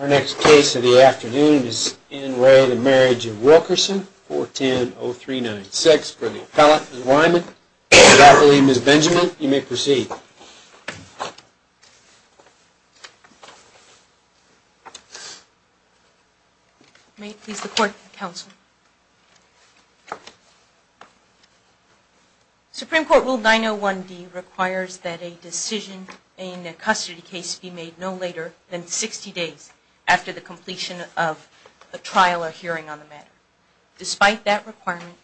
Our next case of the afternoon is in re the Marriage of Wilkerson, 410-0396 for the appellate, Ms. Wyman. And I believe Ms. Benjamin, you may proceed. May it please the court, counsel. Supreme Court Rule 901D requires that a decision in a custody case be made no later than 60 days after the completion of a trial or hearing on the matter. Despite that requirement,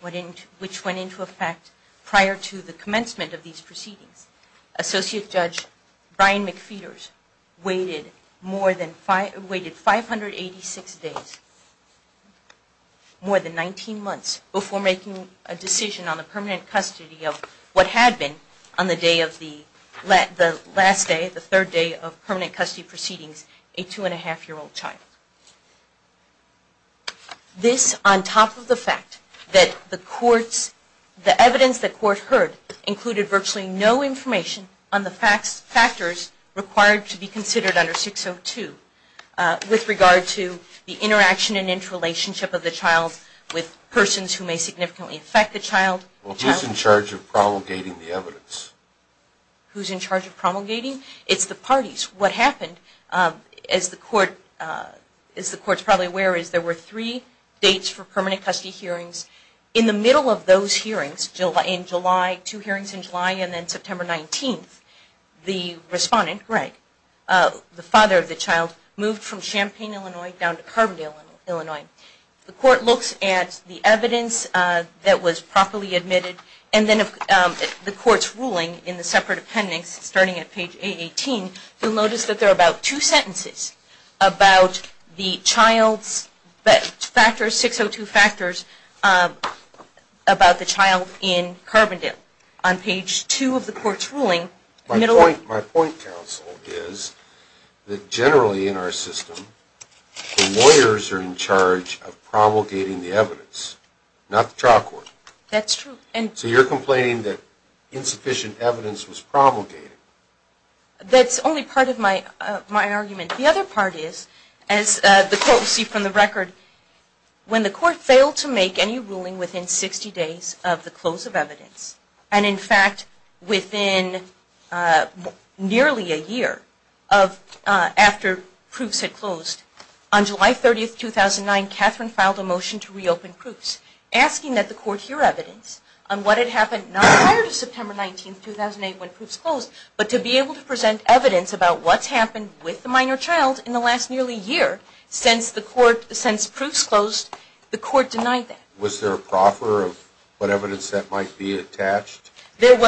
which went into effect prior to the commencement of these proceedings, Associate Judge Brian McPheeters waited 586 days, more than 19 months, before making a decision on the permanent custody of what had been, on the last day, the third day of permanent custody proceedings, a two-and-a-half-year-old child. This, on top of the fact that the evidence the court heard included virtually no information on the factors required to be considered under 602, with regard to the interaction and interrelationship of the child with persons who may significantly affect the child. Well, who's in charge of promulgating the evidence? Who's in charge of promulgating? It's the parties. What happened, as the court is probably aware, is there were three dates for permanent custody hearings. In the middle of those hearings, in July, two hearings in July, and then September 19th, the respondent, Greg, the father of the child, moved from Champaign, Illinois, down to Carbondale, Illinois. The court looks at the evidence that was properly admitted, and then the court's ruling in the separate appendix, starting at page 818, you'll notice that there are about two sentences about the child's factors, 602 factors, about the child in Carbondale. On page 2 of the court's ruling, middle of… My point, counsel, is that generally in our system, the lawyers are in charge of promulgating the evidence, not the trial court. That's true. So you're complaining that insufficient evidence was promulgated. That's only part of my argument. The other part is, as the court will see from the record, when the court failed to make any ruling within 60 days of the close of evidence, and in fact, within nearly a year after proofs had closed, on July 30th, 2009, Catherine filed a motion to reopen proofs, asking that the court hear evidence on what had happened not prior to September 19th, 2008, when proofs closed, but to be able to present evidence about what's happened with the minor child in the last nearly year since the court, since proofs closed. The court denied that. Was there a proffer of what evidence that might be attached? It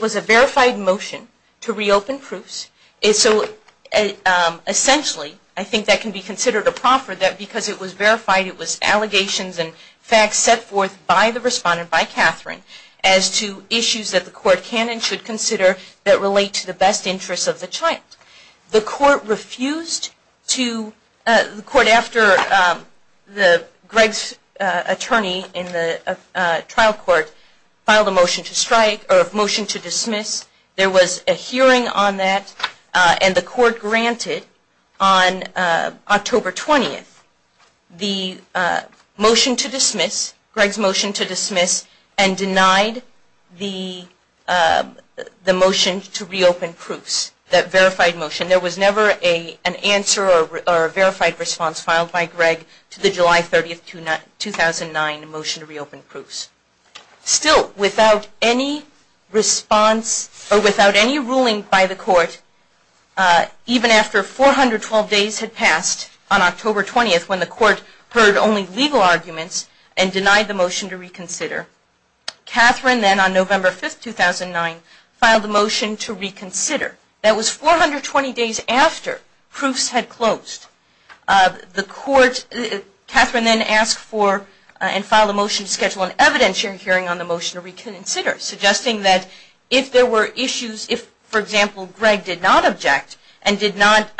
was a verified motion to reopen proofs. Essentially, I think that can be considered a proffer because it was verified, it was allegations and facts set forth by the respondent, by Catherine, as to issues that the court can and should consider that relate to the best interests of the child. The court refused to, the court, after Greg's attorney in the trial court filed a motion to strike, or motion to dismiss, there was a hearing on that, and the court granted, on October 20th, the motion to dismiss, Greg's motion to dismiss, and denied the motion to reopen proofs, that verified motion. There was never an answer or a verified response filed by Greg to the July 30th, 2009, motion to reopen proofs. Still, without any response, or without any ruling by the court, even after 412 days had passed on October 20th, when the court heard only legal arguments, and denied the motion to reconsider. Catherine then, on November 5th, 2009, filed the motion to reconsider. That was 420 days after proofs had closed. The court, Catherine then asked for, and filed a motion to schedule an evidentiary hearing on the motion to reconsider, suggesting that if there were issues, if, for example, Greg did not object, and did not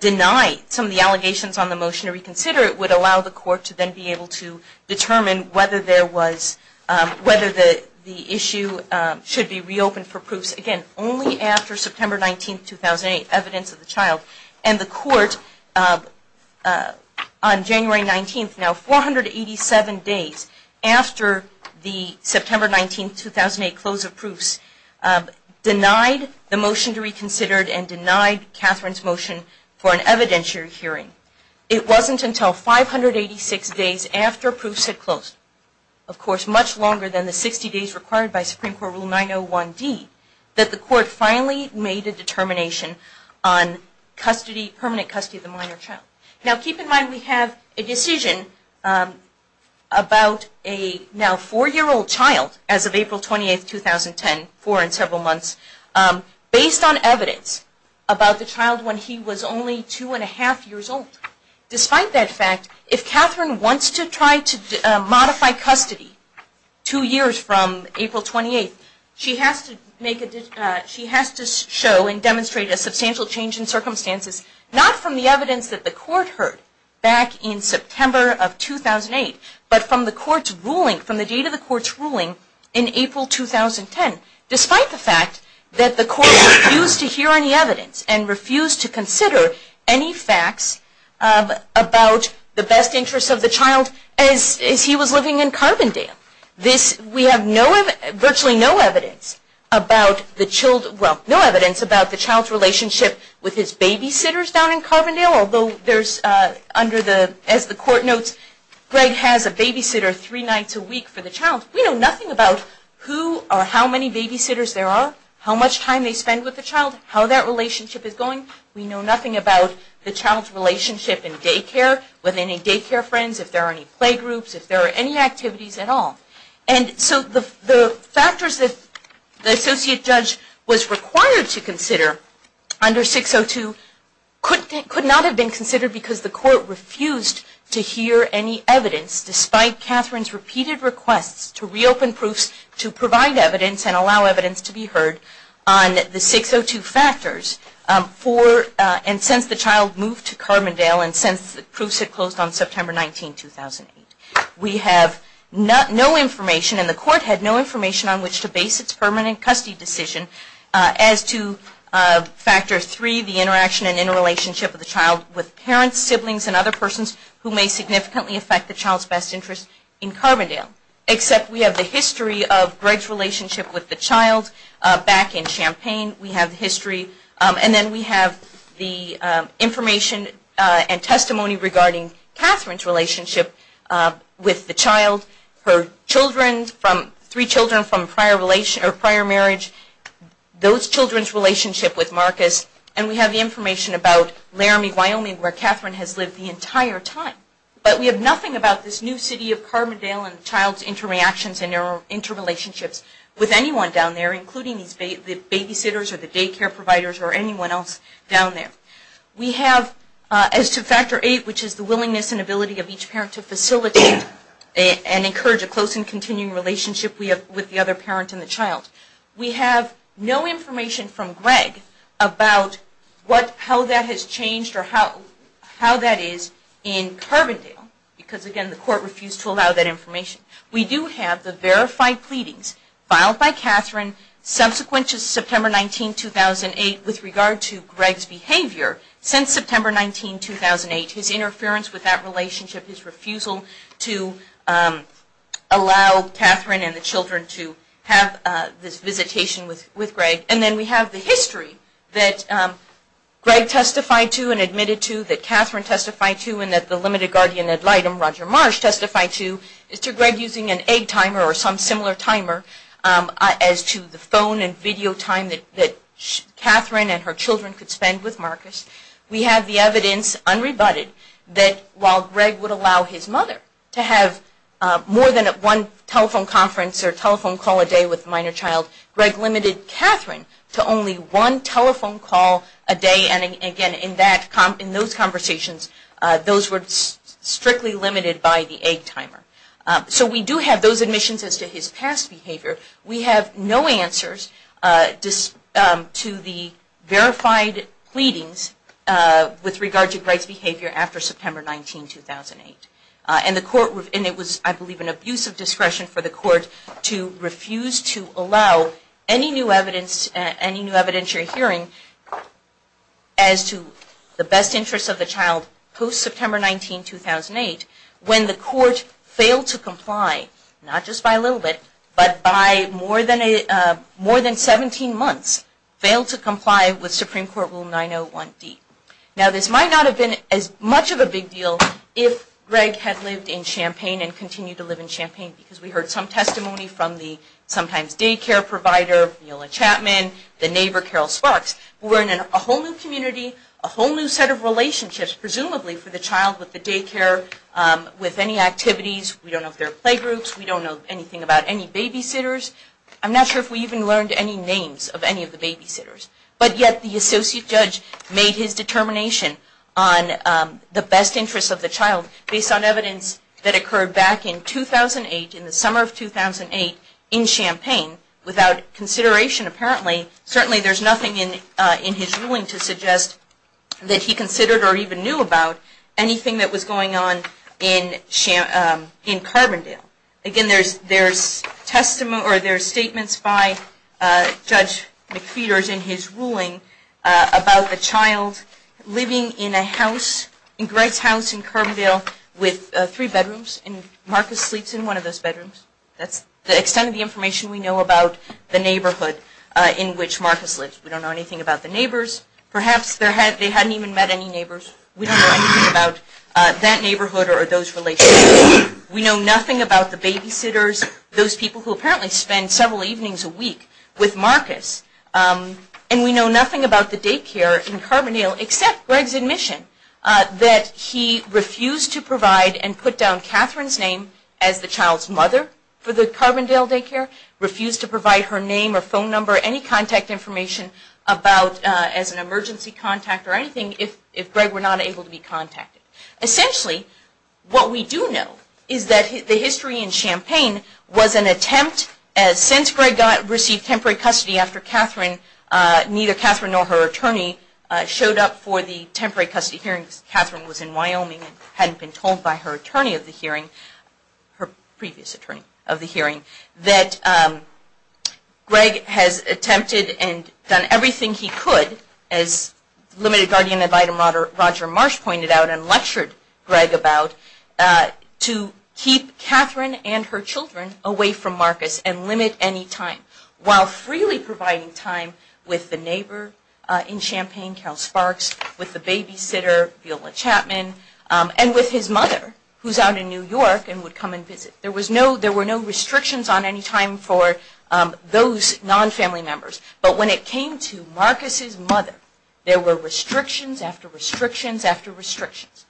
deny some of the allegations on the motion to reconsider, it would allow the court to then be able to determine whether there was, whether the issue should be reopened for proofs, again, only after September 19th, 2008, evidence of the child. And the court, on January 19th, now 487 days after the September 19th, 2008, close of proofs, denied the motion to reconsider, and denied Catherine's motion for an evidentiary hearing. It wasn't until 586 days after proofs had closed, of course, much longer than the 60 days required by Supreme Court Rule 901D, that the court finally made a determination on permanent custody of the minor child. Now, keep in mind, we have a decision about a now four-year-old child, as of April 28th, 2010, four and several months, based on evidence about the child when he was only two and a half years old. Despite that fact, if Catherine wants to try to modify custody two years from April 28th, she has to show and demonstrate a substantial change in circumstances, not from the evidence that the court heard back in September of 2008, but from the court's ruling, from the date of the court's ruling in April 2010. Despite the fact that the court refused to hear any evidence, and refused to consider any facts about the best interest of the child as he was living in Carbondale. We have virtually no evidence about the child's relationship with his babysitters down in Carbondale, although, as the court notes, Greg has a babysitter three nights a week for the child. We know nothing about who or how many babysitters there are, how much time they spend with the child, how that relationship is going. We know nothing about the child's relationship in daycare with any daycare friends, if there are any playgroups, if there are any activities at all. And so the factors that the associate judge was required to consider under 602 could not have been considered because the court refused to hear any evidence, despite Catherine's repeated requests to reopen proofs to provide evidence and allow evidence to be heard on the 602 factors for, and since the child moved to Carbondale, and since the proofs had closed on September 19, 2008. We have no information, and the court had no information on which to base its permanent custody decision as to factor three, the interaction and interrelationship of the child with parents, siblings, and other persons who may significantly affect the child's best interest in Carbondale. Except we have the history of Greg's relationship with the child back in Champaign. We have the history, and then we have the information and testimony regarding Catherine's relationship with the child, her children, three children from prior marriage, those children's relationship with Marcus, and we have the information about Laramie, Wyoming, where Catherine has lived the entire time. But we have nothing about this new city of Carbondale and the child's interactions and interrelationships with anyone down there, including the babysitters or the daycare providers or anyone else down there. We have, as to factor eight, which is the willingness and ability of each parent to facilitate and encourage a close and continuing relationship with the other parent and the child. We have no information from Greg about how that has changed or how that is in Carbondale, because again the court refused to allow that information. We do have the verified pleadings filed by Catherine subsequent to September 19, 2008 with regard to Greg's behavior since September 19, 2008, his interference with that relationship, his refusal to allow Catherine and the children to have this visitation with Greg. And then we have the history that Greg testified to and admitted to, that Catherine testified to, and that the limited guardian ad litem, Roger Marsh, testified to, is to Greg using an egg timer or some similar timer as to the phone and video time that Catherine and her children could spend with Marcus. We have the evidence, unrebutted, that while Greg would allow his mother to have more than one telephone conference or telephone call a day with a minor child, Greg limited Catherine to only one telephone call a day. And again, in those conversations, those were strictly limited by the egg timer. So we do have those admissions as to his past behavior. We have no answers to the verified pleadings with regard to Greg's behavior after September 19, 2008. And it was, I believe, an abuse of discretion for the court to refuse to allow any new evidence, any new evidence you're hearing as to the best interest of the child post-September 19, 2008 when the court failed to comply, not just by a little bit, but by more than 17 months, failed to comply with Supreme Court Rule 901D. Now, this might not have been as much of a big deal if Greg had lived in Champaign and continued to live in Champaign because we heard some testimony from the sometimes daycare provider, Mila Chapman, the neighbor, Carol Sparks, who were in a whole new community, a whole new set of relationships, presumably, for the child with the daycare, with any activities. We don't know if there are playgroups. We don't know anything about any babysitters. I'm not sure if we even learned any names of any of the babysitters. But yet the associate judge made his determination on the best interest of the child based on evidence that occurred back in 2008, in the summer of 2008, in Champaign, without consideration, apparently. Certainly there's nothing in his ruling to suggest that he considered or even knew about anything that was going on in Carbondale. Again, there's statements by Judge McPheeters in his ruling about the child living in Greg's house in Carbondale with three bedrooms, and Marcus sleeps in one of those bedrooms. That's the extent of the information we know about the neighborhood in which Marcus lives. We don't know anything about the neighbors. Perhaps they hadn't even met any neighbors. We don't know anything about that neighborhood or those relationships. We know nothing about the babysitters, those people who apparently spend several evenings a week with Marcus. And we know nothing about the daycare in Carbondale except Greg's admission that he refused to provide and put down Catherine's name as the child's mother for the Carbondale daycare, refused to provide her name or phone number, any contact information as an emergency contact or anything if Greg were not able to be contacted. Essentially, what we do know is that the history in Champaign was an attempt, since Greg received temporary custody after neither Catherine nor her attorney showed up for the temporary custody hearings. Catherine was in Wyoming and hadn't been told by her attorney of the hearing, her previous attorney of the hearing, that Greg has attempted and done everything he could, as limited guardian ad litem Roger Marsh pointed out and lectured Greg about, to keep Catherine and her children away from Marcus and limit any time, while freely providing time with the neighbor in Champaign, Carol Sparks, with the babysitter, Bill Chapman, and with his mother, who is out in New York and would come and visit. There were no restrictions on any time for those non-family members. But when it came to Marcus' mother, there were restrictions after restrictions after restrictions.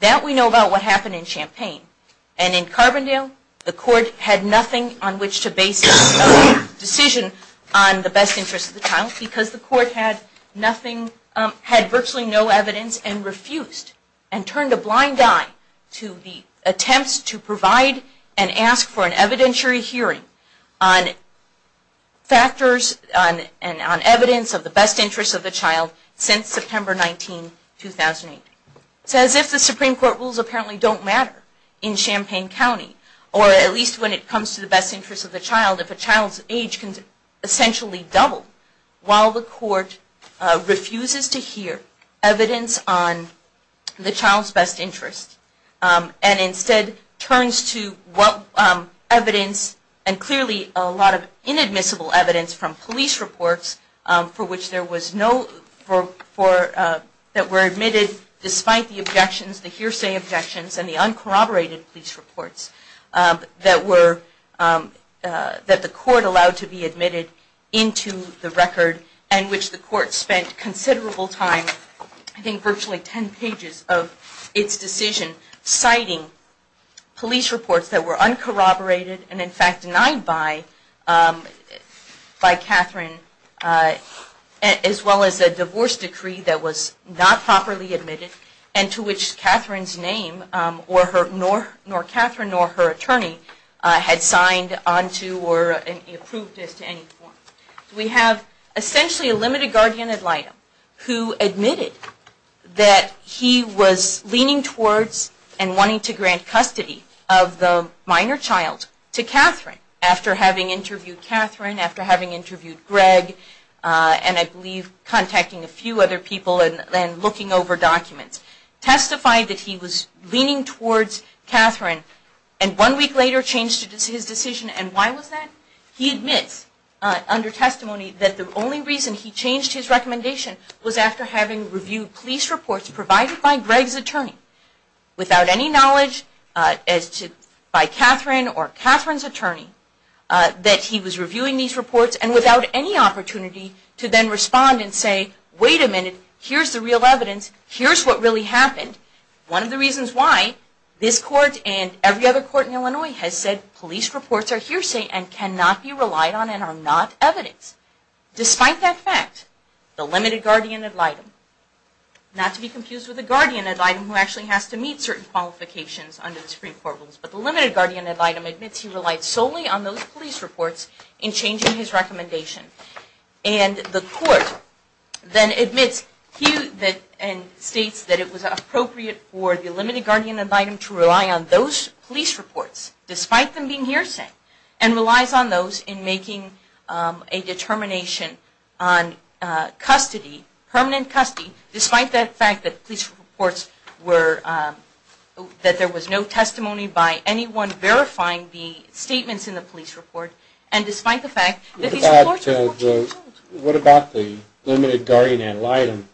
That we know about what happened in Champaign. And in Carbondale, the court had nothing on which to base its own decision on the best interest of the child because the court had virtually no evidence and refused and turned a blind eye to the attempts to provide and ask for an evidentiary hearing on factors and on evidence of the best interest of the child since September 19, 2008. It's as if the Supreme Court rules apparently don't matter in Champaign County, or at least when it comes to the best interest of the child, if a child's age can essentially double, while the court refuses to hear evidence on the child's best interest and instead turns to evidence and clearly a lot of inadmissible evidence from police reports for which there was no, that were admitted despite the objections, the hearsay objections and the uncorroborated police reports that the court allowed to be admitted into the record and which the court spent considerable time, I think virtually 10 pages of its decision, citing police reports that were uncorroborated and in fact denied by Catherine as well as a divorce decree that was not properly admitted and to which Catherine's name nor her attorney had signed onto or approved this to any form. We have essentially a limited guardian ad litem who admitted that he was leaning towards and wanting to grant custody of the minor child to Catherine after having interviewed Catherine, after having interviewed Greg and I believe contacting a few other people and looking over documents, testified that he was leaning towards Catherine and one week later changed his decision and why was that? He admits under testimony that the only reason he changed his recommendation was after having reviewed police reports provided by Greg's attorney without any knowledge by Catherine or Catherine's attorney that he was reviewing these reports and without any opportunity to then respond and say, wait a minute, here's the real evidence, here's what really happened. One of the reasons why this court and every other court in Illinois has said police reports are hearsay and cannot be relied on and are not evidence. Despite that fact, the limited guardian ad litem, not to be confused with the guardian ad litem who actually has to meet certain qualifications under the Supreme Court rules, but the limited guardian ad litem admits he relied solely on those police reports in changing his recommendation and the court then admits and states that it was appropriate for the limited guardian ad litem to rely on those police reports, despite them being hearsay, and relies on those in making a determination on custody, permanent custody, despite the fact that police reports were, that there was no testimony by anyone verifying the statements in the police report and despite the fact that these reports were forged. So what about the limited guardian ad litem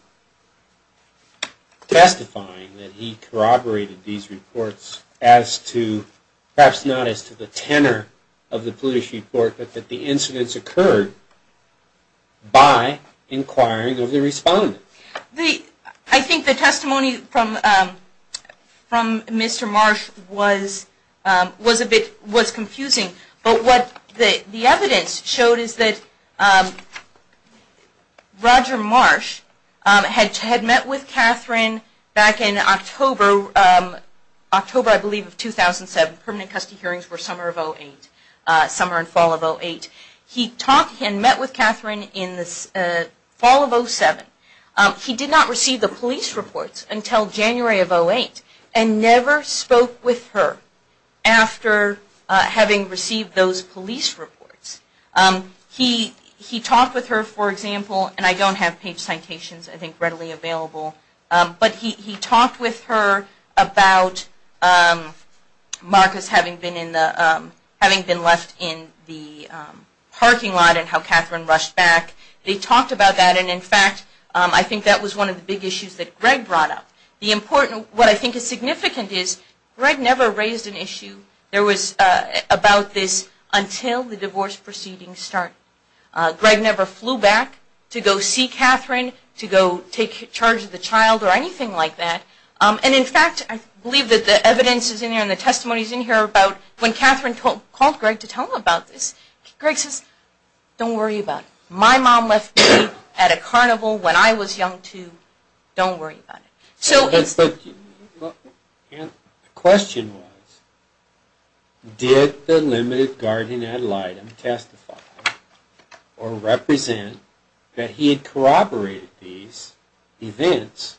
testifying that he corroborated these reports as to, perhaps not as to the tenor of the police report, but that the incidents occurred by inquiring of the respondent? I think the testimony from Mr. Marsh was a bit, was confusing, but what the evidence showed is that Roger Marsh had met with Catherine back in October, October I believe of 2007, permanent custody hearings were summer of 2008, summer and fall of 2008. He talked and met with Catherine in the fall of 2007. He did not receive the police reports until January of 2008 and never spoke with her after having received those police reports. He talked with her, for example, and I don't have page citations I think readily available, but he talked with her about Marcus having been in the, having been left in the parking lot and how Catherine rushed back. They talked about that and in fact I think that was one of the big issues that Greg brought up. The important, what I think is significant is Greg never raised an issue there was about this until the divorce proceedings started. Greg never flew back to go see Catherine, to go take charge of the child or anything like that. And in fact I believe that the evidence is in here and the testimony is in here about when Catherine called Greg to tell him about this, Greg says, don't worry about it. My mom left me at a carnival when I was young too. Don't worry about it. The question was, did the limited guardian ad litem testify or represent that he had corroborated these events,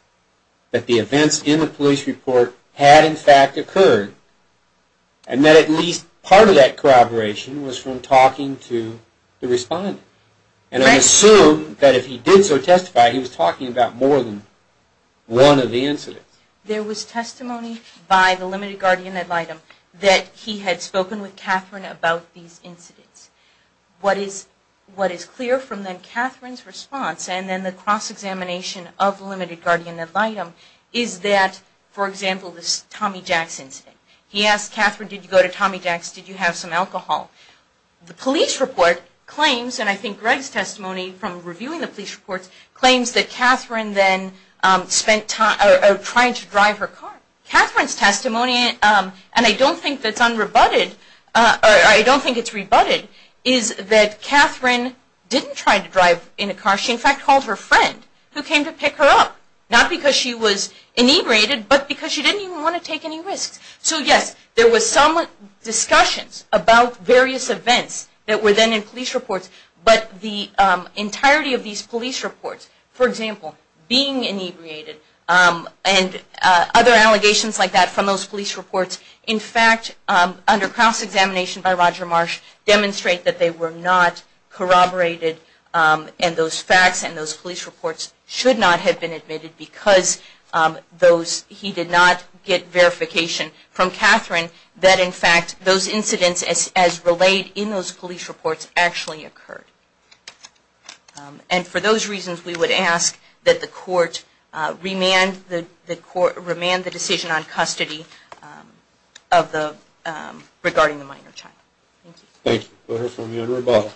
that the events in the police report had in fact occurred and that at least part of that corroboration was from talking to the respondent. And I assume that if he did so testify he was talking about more than one of the incidents. There was testimony by the limited guardian ad litem that he had spoken with Catherine about these incidents. What is clear from then Catherine's response and then the cross-examination of the limited guardian ad litem is that, for example, this Tommy Jax incident. He asked Catherine, did you go to Tommy Jax, did you have some alcohol? The police report claims, and I think Greg's testimony from reviewing the police report claims that Catherine then spent time, or tried to drive her car. Catherine's testimony, and I don't think that's unrebutted, or I don't think it's rebutted, is that Catherine didn't try to drive in a car. She in fact called her friend who came to pick her up. Not because she was inebriated, but because she didn't even want to take any risks. So yes, there was some discussions about various events that were then in police reports, but the entirety of these police reports, for example, being inebriated and other allegations like that from those police reports, in fact, under cross-examination by Roger Marsh, demonstrate that they were not corroborated and those facts and those police reports should not have been admitted because he did not get verification from Catherine that in fact those incidents as relayed in those police reports actually occurred. And for those reasons, we would ask that the court remand the decision on custody regarding the minor child. Thank you. We'll hear from you in rebuttal.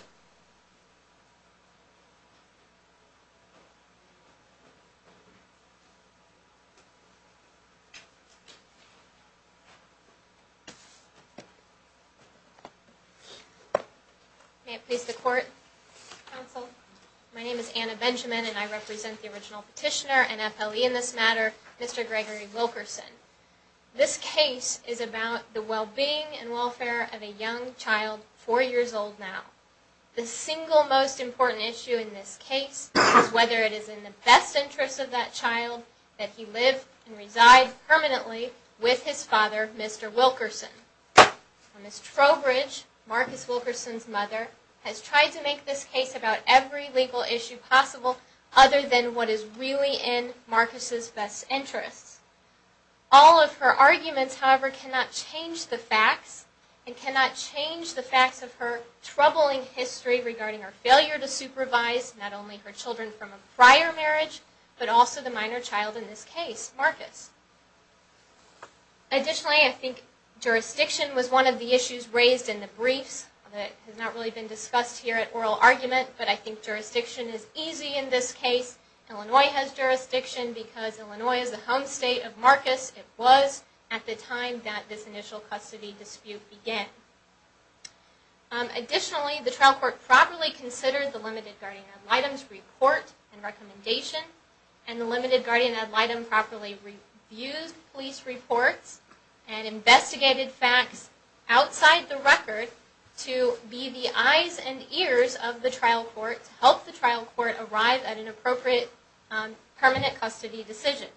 May it please the court, counsel. My name is Anna Benjamin and I represent the original petitioner and FLE in this matter, Mr. Gregory Wilkerson. This case is about the well-being and welfare of a young child four years old now. The single most important issue in this case is whether it is in the best interest of that child that he live and reside permanently with his father, Mr. Wilkerson. Ms. Trowbridge, Marcus Wilkerson's mother, has tried to make this case about every legal issue possible other than what is really in Marcus's best interest. All of her arguments, however, cannot change the facts and cannot change the facts of her troubling history regarding her failure to supervise not only her children from a prior marriage, but also the minor child in this case, Marcus. Additionally, I think jurisdiction was one of the issues raised in the briefs. It has not really been discussed here at oral argument, but I think jurisdiction is easy in this case. Illinois has jurisdiction because Illinois is the home state of Marcus. It was at the time that this initial custody dispute began. Additionally, the trial court properly considered the limited guardian ad litem's report and recommendation and the limited guardian ad litem properly reviewed police reports and investigated facts outside the record to be the eyes and ears of the trial court to help the trial court arrive at an appropriate permanent custody decision.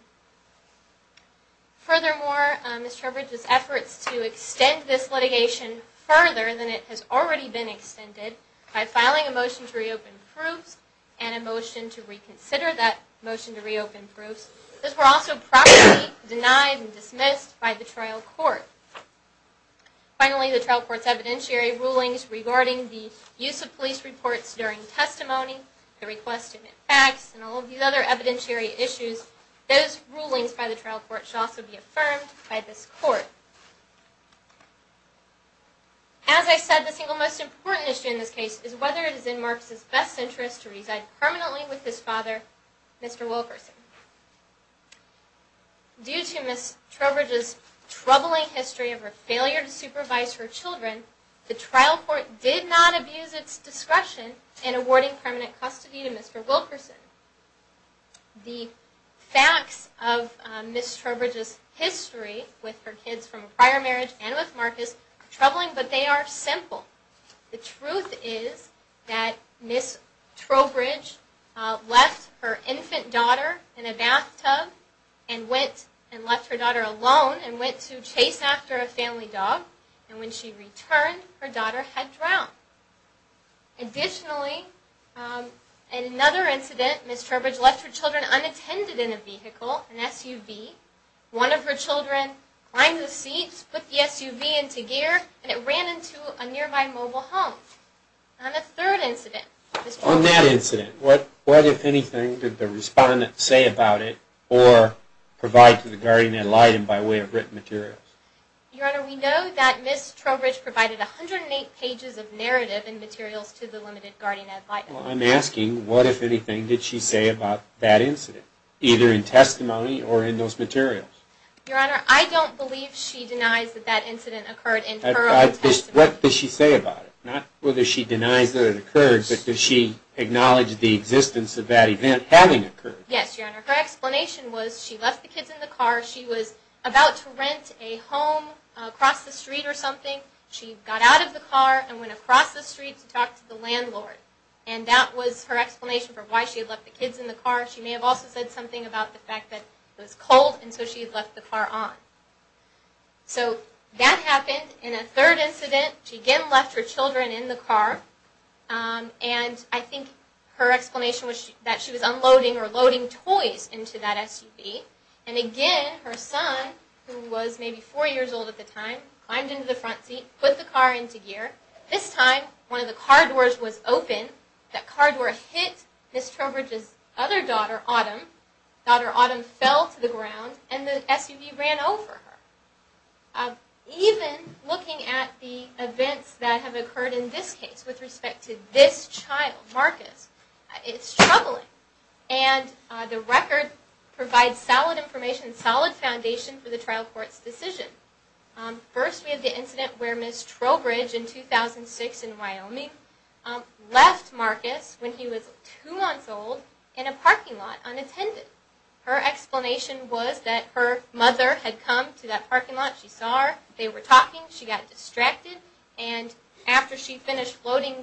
Furthermore, Ms. Trowbridge's efforts to extend this litigation further than it has already been extended by filing a motion to reopen proofs and a motion to reconsider that motion to reopen proofs, those were also properly denied and dismissed by the trial court. Finally, the trial court's evidentiary rulings regarding the use of police reports during testimony, the request to admit facts, and all of these other evidentiary issues, those rulings by the trial court should also be affirmed by this court. As I said, the single most important issue in this case is whether it is in Marcus' best interest to reside permanently with his father, Mr. Wilkerson. Due to Ms. Trowbridge's troubling history of her failure to supervise her children, the trial court did not abuse its discretion in awarding permanent custody to Mr. Wilkerson. The facts of Ms. Trowbridge's history with her kids from a prior marriage and with Marcus are troubling, but they are simple. The truth is that Ms. Trowbridge left her infant daughter in a bathtub and left her daughter alone and went to chase after a family dog, and when she returned, her daughter had drowned. Additionally, in another incident, Ms. Trowbridge left her children unattended in a vehicle, an SUV. One of her children climbed the seats, put the SUV into gear, and it ran into a nearby mobile home. On a third incident, Ms. Trowbridge… On that incident, what, if anything, did the respondent say about it or provide to the guardian ad litem by way of written materials? Your Honor, we know that Ms. Trowbridge provided 108 pages of narrative and materials to the limited guardian ad litem. I'm asking, what, if anything, did she say about that incident, either in testimony or in those materials? Your Honor, I don't believe she denies that that incident occurred in her own testimony. What does she say about it? Not whether she denies that it occurred, but does she acknowledge the existence of that event having occurred? Yes, Your Honor. Her explanation was she left the kids in the car. She was about to rent a home across the street or something. She got out of the car and went across the street to talk to the landlord, and that was her explanation for why she had left the kids in the car. She may have also said something about the fact that it was cold, and so she had left the car on. So that happened. In a third incident, she again left her children in the car, and I think her explanation was that she was unloading or loading toys into that SUV. And again, her son, who was maybe four years old at the time, climbed into the front seat, put the car into gear. This time, one of the car doors was open. That car door hit Ms. Trowbridge's other daughter, Autumn. Daughter Autumn fell to the ground, and the SUV ran over her. Even looking at the events that have occurred in this case with respect to this child, Marcus, it's troubling. And the record provides solid information, solid foundation for the trial court's decision. First, we have the incident where Ms. Trowbridge, in 2006 in Wyoming, left Marcus when he was two months old in a parking lot unattended. Her explanation was that her mother had come to that parking lot. She saw her. They were talking. She got distracted. And after she finished loading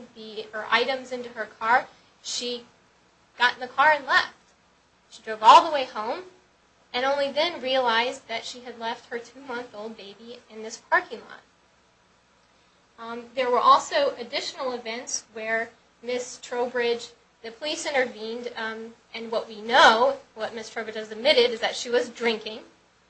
her items into her car, she got in the car and left. She drove all the way home, and only then realized that she had left her two-month-old baby in this parking lot. There were also additional events where Ms. Trowbridge, the police intervened. And what we know, what Ms. Trowbridge has admitted, is that she was drinking.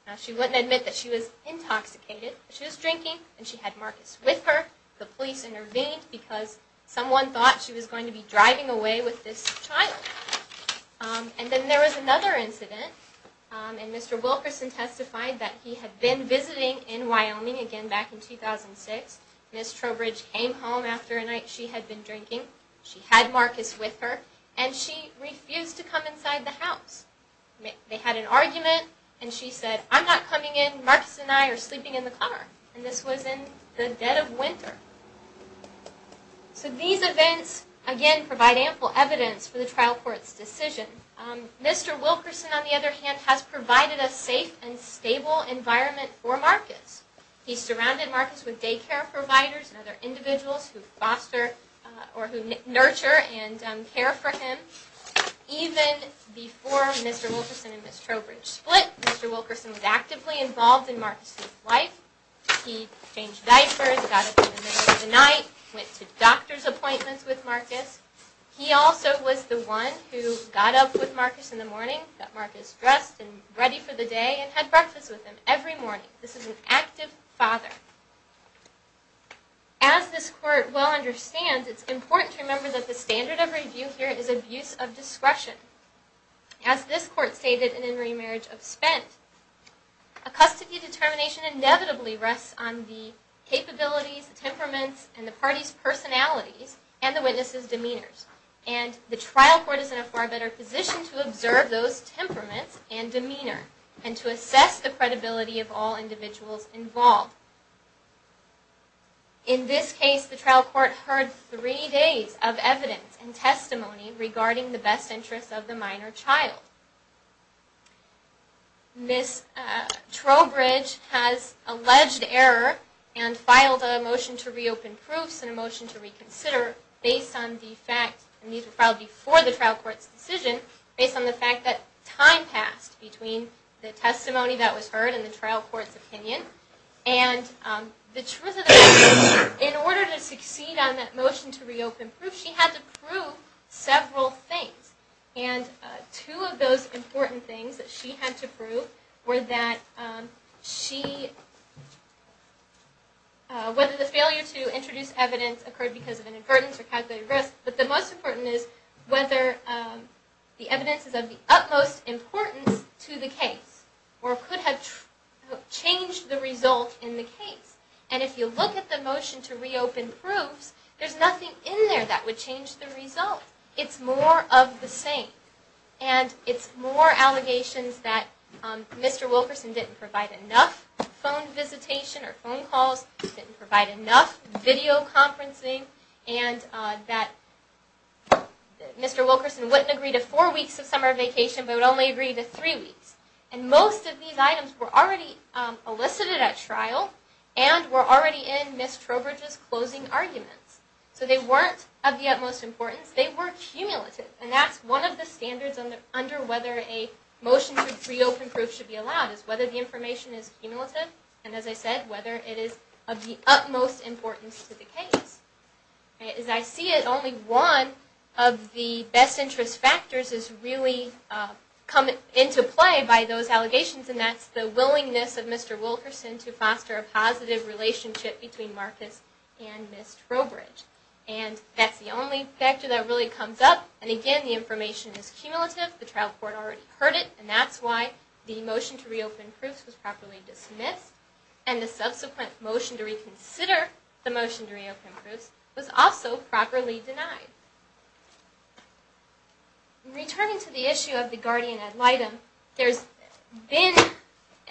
Now, she wouldn't admit that she was intoxicated. She was drinking, and she had Marcus with her. The police intervened because someone thought she was going to be driving away with this child. And then there was another incident. And Mr. Wilkerson testified that he had been visiting in Wyoming again back in 2006. Ms. Trowbridge came home after a night she had been drinking. She had Marcus with her. And she refused to come inside the house. They had an argument, and she said, I'm not coming in. Marcus and I are sleeping in the car. And this was in the dead of winter. So these events, again, provide ample evidence for the trial court's decision. Mr. Wilkerson, on the other hand, has provided a safe and stable environment for Marcus. He surrounded Marcus with daycare providers and other individuals who nurture and care for him. Even before Mr. Wilkerson and Ms. Trowbridge split, Mr. Wilkerson was actively involved in Marcus' life. He changed diapers, got up in the middle of the night, went to doctor's appointments with Marcus. He also was the one who got up with Marcus in the morning, got Marcus dressed and ready for the day, and had breakfast with him every morning. This is an active father. As this court well understands, it's important to remember that the standard of review here is abuse of discretion. As this court stated in In Remarriage of Spent, a custody determination inevitably rests on the capabilities, temperaments, and the party's personalities, and the witness's demeanors. And the trial court is in a far better position to observe those temperaments and demeanor and to assess the credibility of all individuals involved. In this case, the trial court heard three days of evidence and testimony regarding the best interests of the minor child. Ms. Trowbridge has alleged error and filed a motion to reopen proofs and a motion to reconsider based on the fact, and these were filed before the trial court's decision, based on the fact that time passed between the testimony that was heard and the trial court's opinion. And the truth of the matter is, in order to succeed on that motion to reopen proofs, she had to prove several things. And two of those important things that she had to prove were that she, whether the failure to introduce evidence occurred because of an invertence or calculated risk, but the most important is whether the evidence is of the utmost importance to the case or could have changed the result in the case. And if you look at the motion to reopen proofs, there's nothing in there that would change the result. It's more of the same. And it's more allegations that Mr. Wilkerson didn't provide enough phone visitation or phone calls, didn't provide enough video conferencing, and that Mr. Wilkerson wouldn't agree to four weeks of summer vacation but would only agree to three weeks. And most of these items were already elicited at trial and were already in Ms. Trowbridge's closing arguments. So they weren't of the utmost importance. They were cumulative. And that's one of the standards under whether a motion to reopen proofs should be allowed, is whether the information is cumulative and, as I said, whether it is of the utmost importance to the case. As I see it, only one of the best interest factors is really come into play by those allegations, and that's the willingness of Mr. Wilkerson to foster a positive relationship between Marcus and Ms. Trowbridge. And that's the only factor that really comes up. And, again, the information is cumulative. The trial court already heard it, and that's why the motion to reopen proofs was properly dismissed. And the subsequent motion to reconsider the motion to reopen proofs was also properly denied. Returning to the issue of the guardian ad litem, there's been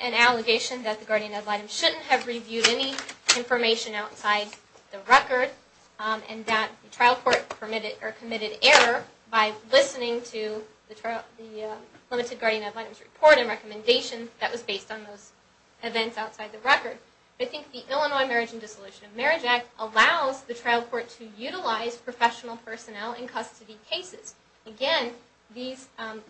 an allegation that the guardian ad litem shouldn't have reviewed any information outside the record and that the trial court committed error by listening to the limited guardian ad litem's report and recommendation that was based on those events outside the record. I think the Illinois Marriage and Dissolution of Marriage Act allows the trial court to utilize professional personnel in custody cases. Again, these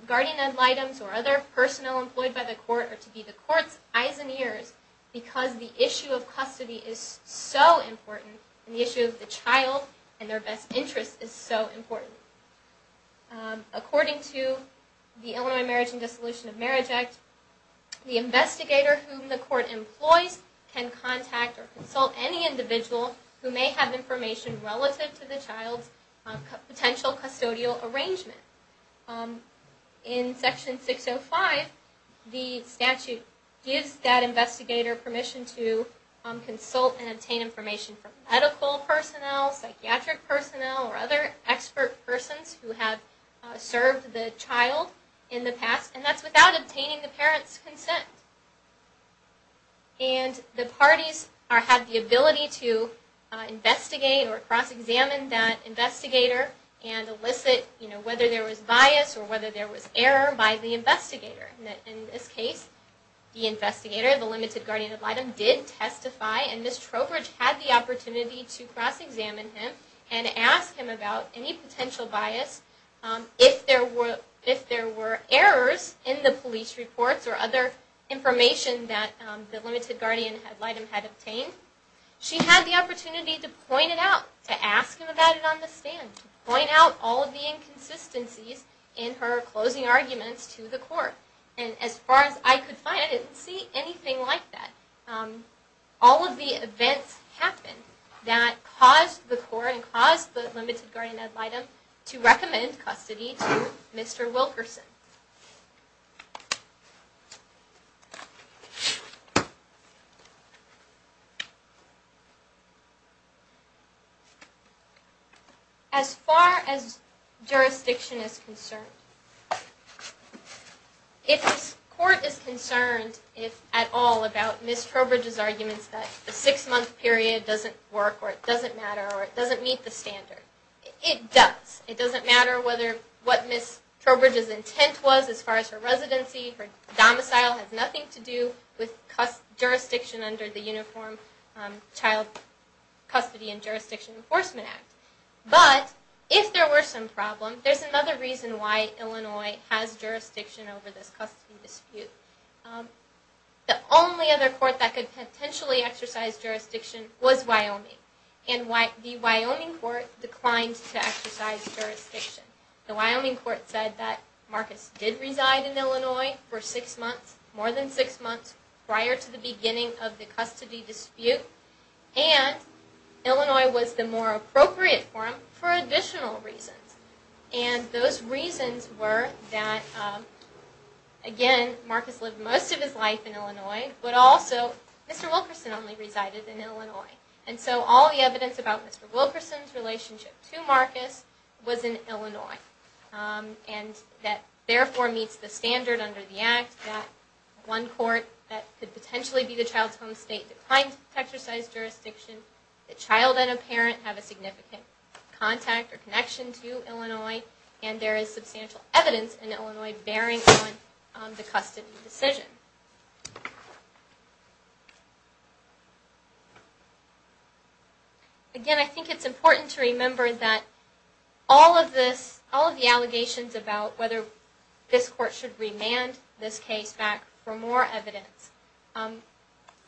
guardian ad litems or other personnel employed by the court are to be the court's eyes and ears because the issue of custody is so important and the issue of the child and their best interest is so important. According to the Illinois Marriage and Dissolution of Marriage Act, the investigator whom the court employs can contact or consult any individual who may have information relative to the child's potential custodial arrangement. In Section 605, the statute gives that investigator permission to consult and obtain information from medical personnel, psychiatric personnel, or other expert persons who have served the child in the past, and that's without obtaining the parent's consent. And the parties have the ability to investigate or cross-examine that investigator and elicit whether there was bias or whether there was error by the investigator. In this case, the investigator, the limited guardian ad litem, did testify and Ms. Trowbridge had the opportunity to cross-examine him and ask him about any potential bias. If there were errors in the police reports or other information that the limited guardian ad litem had obtained, she had the opportunity to point it out, to ask him about it on the stand, to point out all of the inconsistencies in her closing arguments to the court. And as far as I could find, I didn't see anything like that. All of the events happened that caused the court and caused the limited guardian ad litem to recommend custody to Mr. Wilkerson. As far as jurisdiction is concerned, if this court is concerned at all about Ms. Trowbridge's arguments that the six-month period doesn't work or it doesn't matter or it doesn't meet the standard, it does. It doesn't matter what Ms. Trowbridge's intent was as far as her residency, her domicile has nothing to do with jurisdiction under the Uniform Child Custody and Jurisdiction Enforcement Act. But if there were some problem, there's another reason why Illinois has jurisdiction over this custody dispute. The only other court that could potentially exercise jurisdiction was Wyoming. And the Wyoming court declined to exercise jurisdiction. The Wyoming court said that Marcus did reside in Illinois for six months, more than six months, prior to the beginning of the custody dispute. And Illinois was the more appropriate for him for additional reasons. And those reasons were that, again, Marcus lived most of his life in Illinois, but also Mr. Wilkerson only resided in Illinois. And so all the evidence about Mr. Wilkerson's relationship to Marcus was in Illinois. And that therefore meets the standard under the act that one court that could potentially be the child's home state declined to exercise jurisdiction. The child and a parent have a significant contact or connection to Illinois. And there is substantial evidence in Illinois bearing on the custody decision. Again, I think it's important to remember that all of this, all of the allegations about whether this court should remand this case back for more evidence,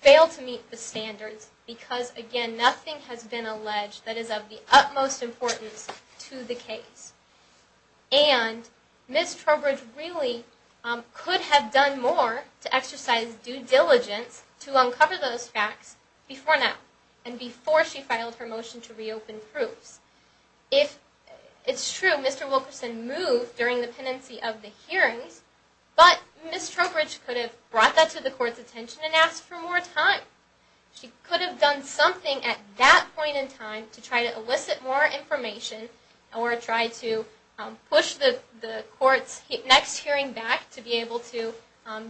fail to meet the standards because, again, nothing has been alleged that is of the utmost importance to the case. And Ms. Trowbridge really could have done more to exercise due diligence to uncover those facts before now and before she filed her motion to reopen proofs. It's true, Mr. Wilkerson moved during the pendency of the hearings, but Ms. Trowbridge could have brought that to the court's attention and asked for more time. She could have done something at that point in time to try to elicit more information or try to push the court's next hearing back to be able to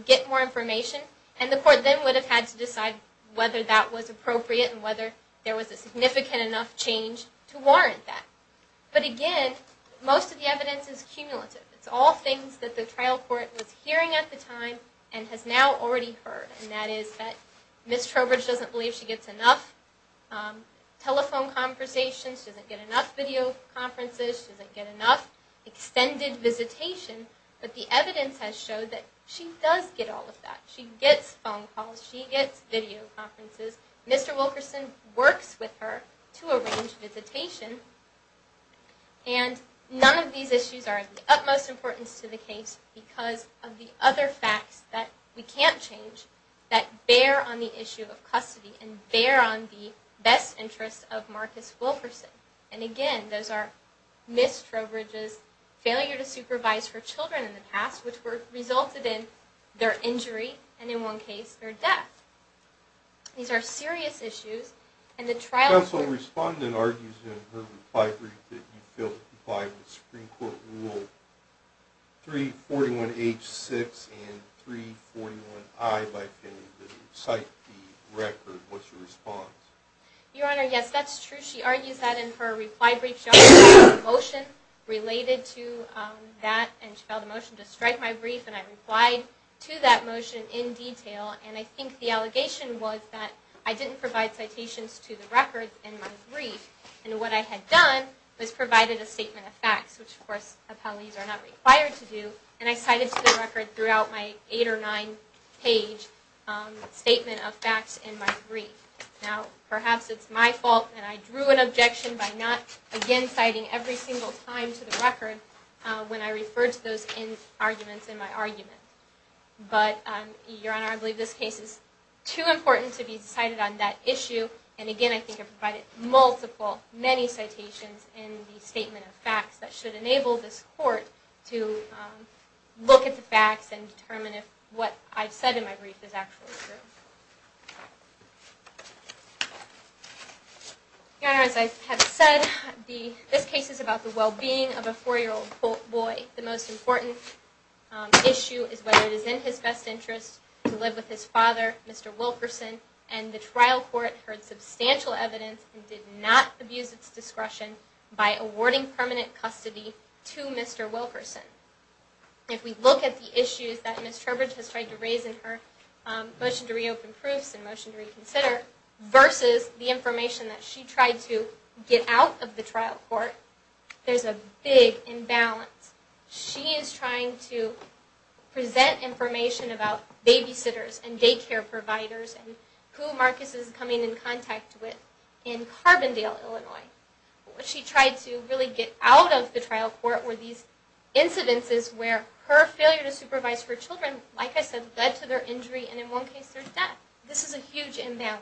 get more information. And the court then would have had to decide whether that was appropriate and whether there was a significant enough change to warrant that. But again, most of the evidence is cumulative. It's all things that the trial court was hearing at the time and has now already heard, and that is that Ms. Trowbridge doesn't believe she gets enough telephone conversations, she doesn't get enough video conferences, she doesn't get enough extended visitation. But the evidence has showed that she does get all of that. She gets phone calls, she gets video conferences. Mr. Wilkerson works with her to arrange visitation. And none of these issues are of the utmost importance to the case because of the other facts that we can't change that bear on the issue of custody and bear on the best interests of Marcus Wilkerson. And again, those are Ms. Trowbridge's failure to supervise her children in the past, which resulted in their injury, and in one case, their death. These are serious issues. The counsel respondent argues in her reply brief that you failed to comply with Supreme Court Rule 341H6 and 341I by failing to cite the record. What's your response? Your Honor, yes, that's true. She argues that in her reply brief. She also filed a motion related to that, and she filed a motion to strike my brief, and I replied to that motion in detail. And I think the allegation was that I didn't provide citations to the record in my brief, and what I had done was provided a statement of facts, which, of course, appellees are not required to do, and I cited to the record throughout my eight- or nine-page statement of facts in my brief. Now, perhaps it's my fault that I drew an objection by not, again, citing every single time to the record when I referred to those arguments in my argument. But, Your Honor, I believe this case is too important to be cited on that issue, and, again, I think I provided multiple, many citations in the statement of facts that should enable this Court to look at the facts and determine if what I've said in my brief is actually true. Your Honor, as I have said, this case is about the well-being of a four-year-old boy. The most important issue is whether it is in his best interest to live with his father, Mr. Wilkerson, and the trial court heard substantial evidence and did not abuse its discretion by awarding permanent custody to Mr. Wilkerson. If we look at the issues that Ms. Turbridge has tried to raise in her motion to reopen proofs and motion to reconsider versus the information that she tried to get out of the trial court, there's a big imbalance. She is trying to present information about babysitters and daycare providers and who Marcus is coming in contact with in Carbondale, Illinois. What she tried to really get out of the trial court were these incidences where her failure to supervise her children, like I said, led to their injury and, in one case, their death. This is a huge imbalance.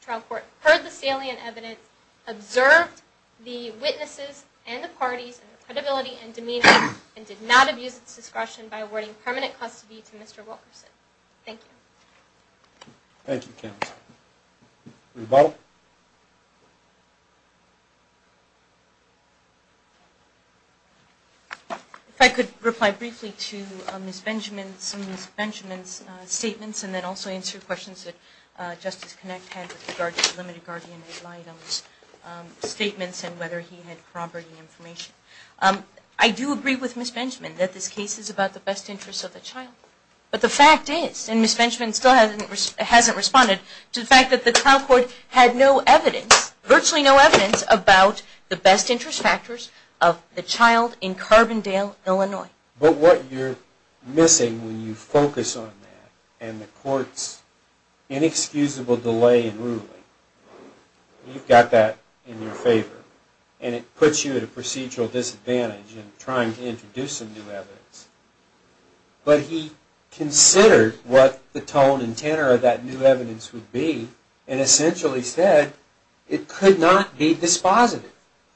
The trial court heard the salient evidence, observed the witnesses and the parties and their credibility and demeanor, and did not abuse its discretion by awarding permanent custody to Mr. Wilkerson. Thank you. Thank you, counsel. Ms. Butler? If I could reply briefly to Ms. Benjamin, some of Ms. Benjamin's statements, and then also answer questions that Justice Connick had with regard to the limited guardian aid items statements and whether he had corroborated information. I do agree with Ms. Benjamin that this case is about the best interest of the child. But the fact is, and Ms. Benjamin still hasn't responded, to the fact that the trial court had no evidence, virtually no evidence, but what you're missing when you focus on that and the court's inexcusable delay in ruling, you've got that in your favor. And it puts you at a procedural disadvantage in trying to introduce some new evidence. But he considered what the tone and tenor of that new evidence would be and essentially said it could not be dispositive.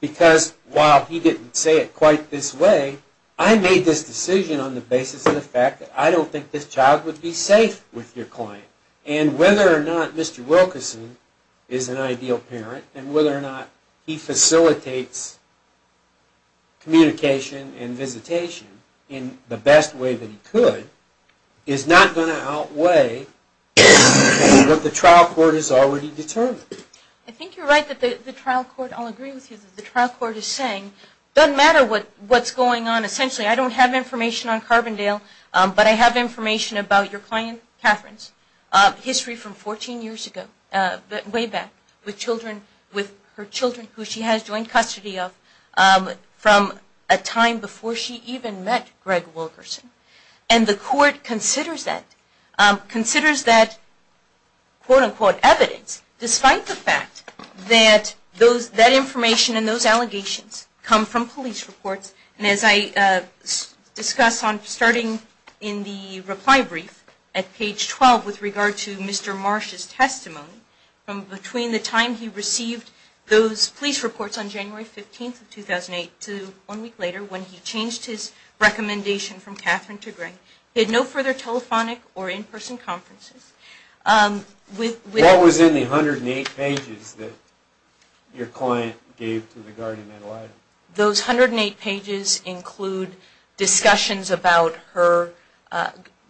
Because while he didn't say it quite this way, I made this decision on the basis of the fact that I don't think this child would be safe with your client. And whether or not Mr. Wilkerson is an ideal parent and whether or not he facilitates communication and visitation in the best way that he could is not going to outweigh what the trial court has already determined. I think you're right that the trial court, I'll agree with you, that the trial court is saying it doesn't matter what's going on. Essentially, I don't have information on Carbondale, but I have information about your client Catherine's history from 14 years ago, way back, with her children who she has joint custody of from a time before she even met Greg Wilkerson. And the court considers that quote-unquote evidence, despite the fact that that information and those allegations come from police reports. And as I discussed starting in the reply brief at page 12 with regard to Mr. Marsh's testimony, from between the time he received those police reports on January 15, 2008, to one week later, when he changed his recommendation from Catherine to Greg, he had no further telephonic or in-person conferences. What was in the 108 pages that your client gave to the guardian? Those 108 pages include discussions about her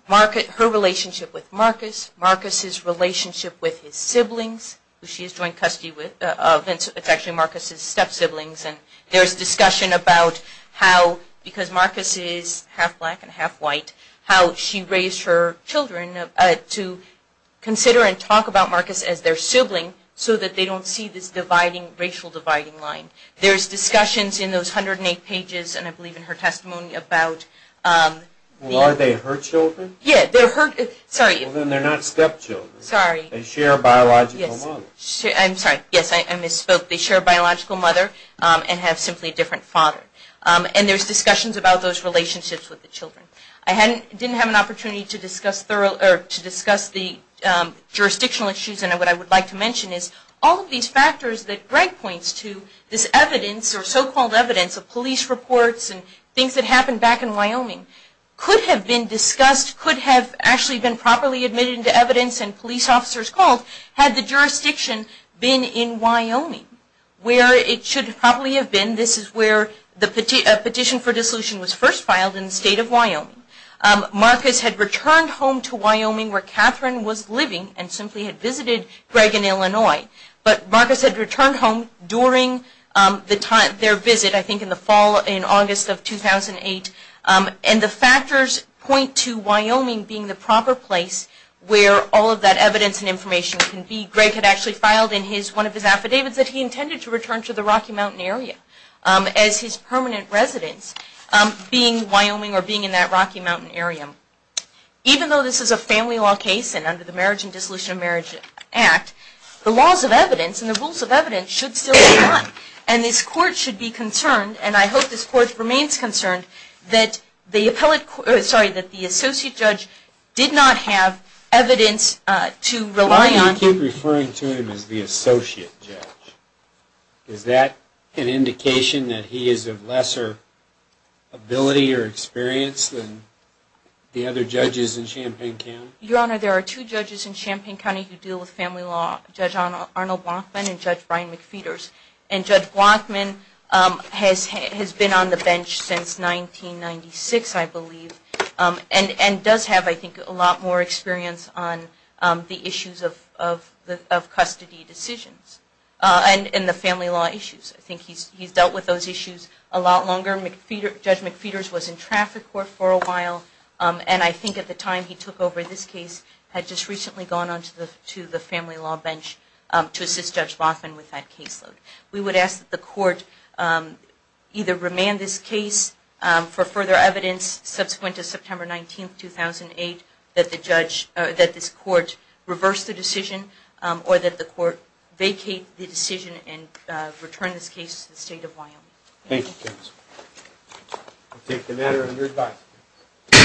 relationship with Marcus, Marcus's relationship with his siblings, who she has joint custody of. It's actually Marcus's step-siblings. And there's discussion about how, because Marcus is half-black and half-white, how she raised her children to consider and talk about Marcus as their sibling so that they don't see this racial dividing line. There's discussions in those 108 pages, and I believe in her testimony, about... Well, are they her children? Yeah, they're her... sorry. Well, then they're not step-children. Sorry. They share a biological mother. I'm sorry. Yes, I misspoke. They share a biological mother and have simply a different father. And there's discussions about those relationships with the children. I didn't have an opportunity to discuss the jurisdictional issues, and what I would like to mention is all of these factors that Greg points to, this evidence or so-called evidence of police reports and things that happened back in Wyoming, could have been discussed, could have actually been properly admitted into evidence, and police officers called had the jurisdiction been in Wyoming, where it should probably have been. This is where the petition for dissolution was first filed in the state of Wyoming. Marcus had returned home to Wyoming where Catherine was living and simply had visited Greg in Illinois. But Marcus had returned home during their visit, I think in the fall, in August of 2008. And the factors point to Wyoming being the proper place where all of that evidence and information can be. Greg had actually filed in one of his affidavits that he intended to return to the Rocky Mountain area as his permanent residence, being Wyoming or being in that Rocky Mountain area. Even though this is a family law case and under the Marriage and Dissolution of Marriage Act, the laws of evidence and the rules of evidence should still be done. And this Court should be concerned, and I hope this Court remains concerned, that the Associate Judge did not have evidence to rely on. Why are you referring to him as the Associate Judge? Is that an indication that he is of lesser ability or experience than the other judges in Champaign County? Your Honor, there are two judges in Champaign County who deal with family law, Judge Arnold Blachman and Judge Brian McPheeters. And Judge Blachman has been on the bench since 1996, I believe, and does have, I think, a lot more experience on the issues of custody decisions and the family law issues. I think he's dealt with those issues a lot longer. Judge McPheeters was in traffic court for a while, and I think at the time he took over this case, had just recently gone on to the family law bench to assist Judge Blachman with that caseload. We would ask that the Court either remand this case for further evidence subsequent to September 19, 2008, that this Court reverse the decision or that the Court vacate the decision and return this case to the State of Wyoming. Thank you, Justice. I take the matter under advice.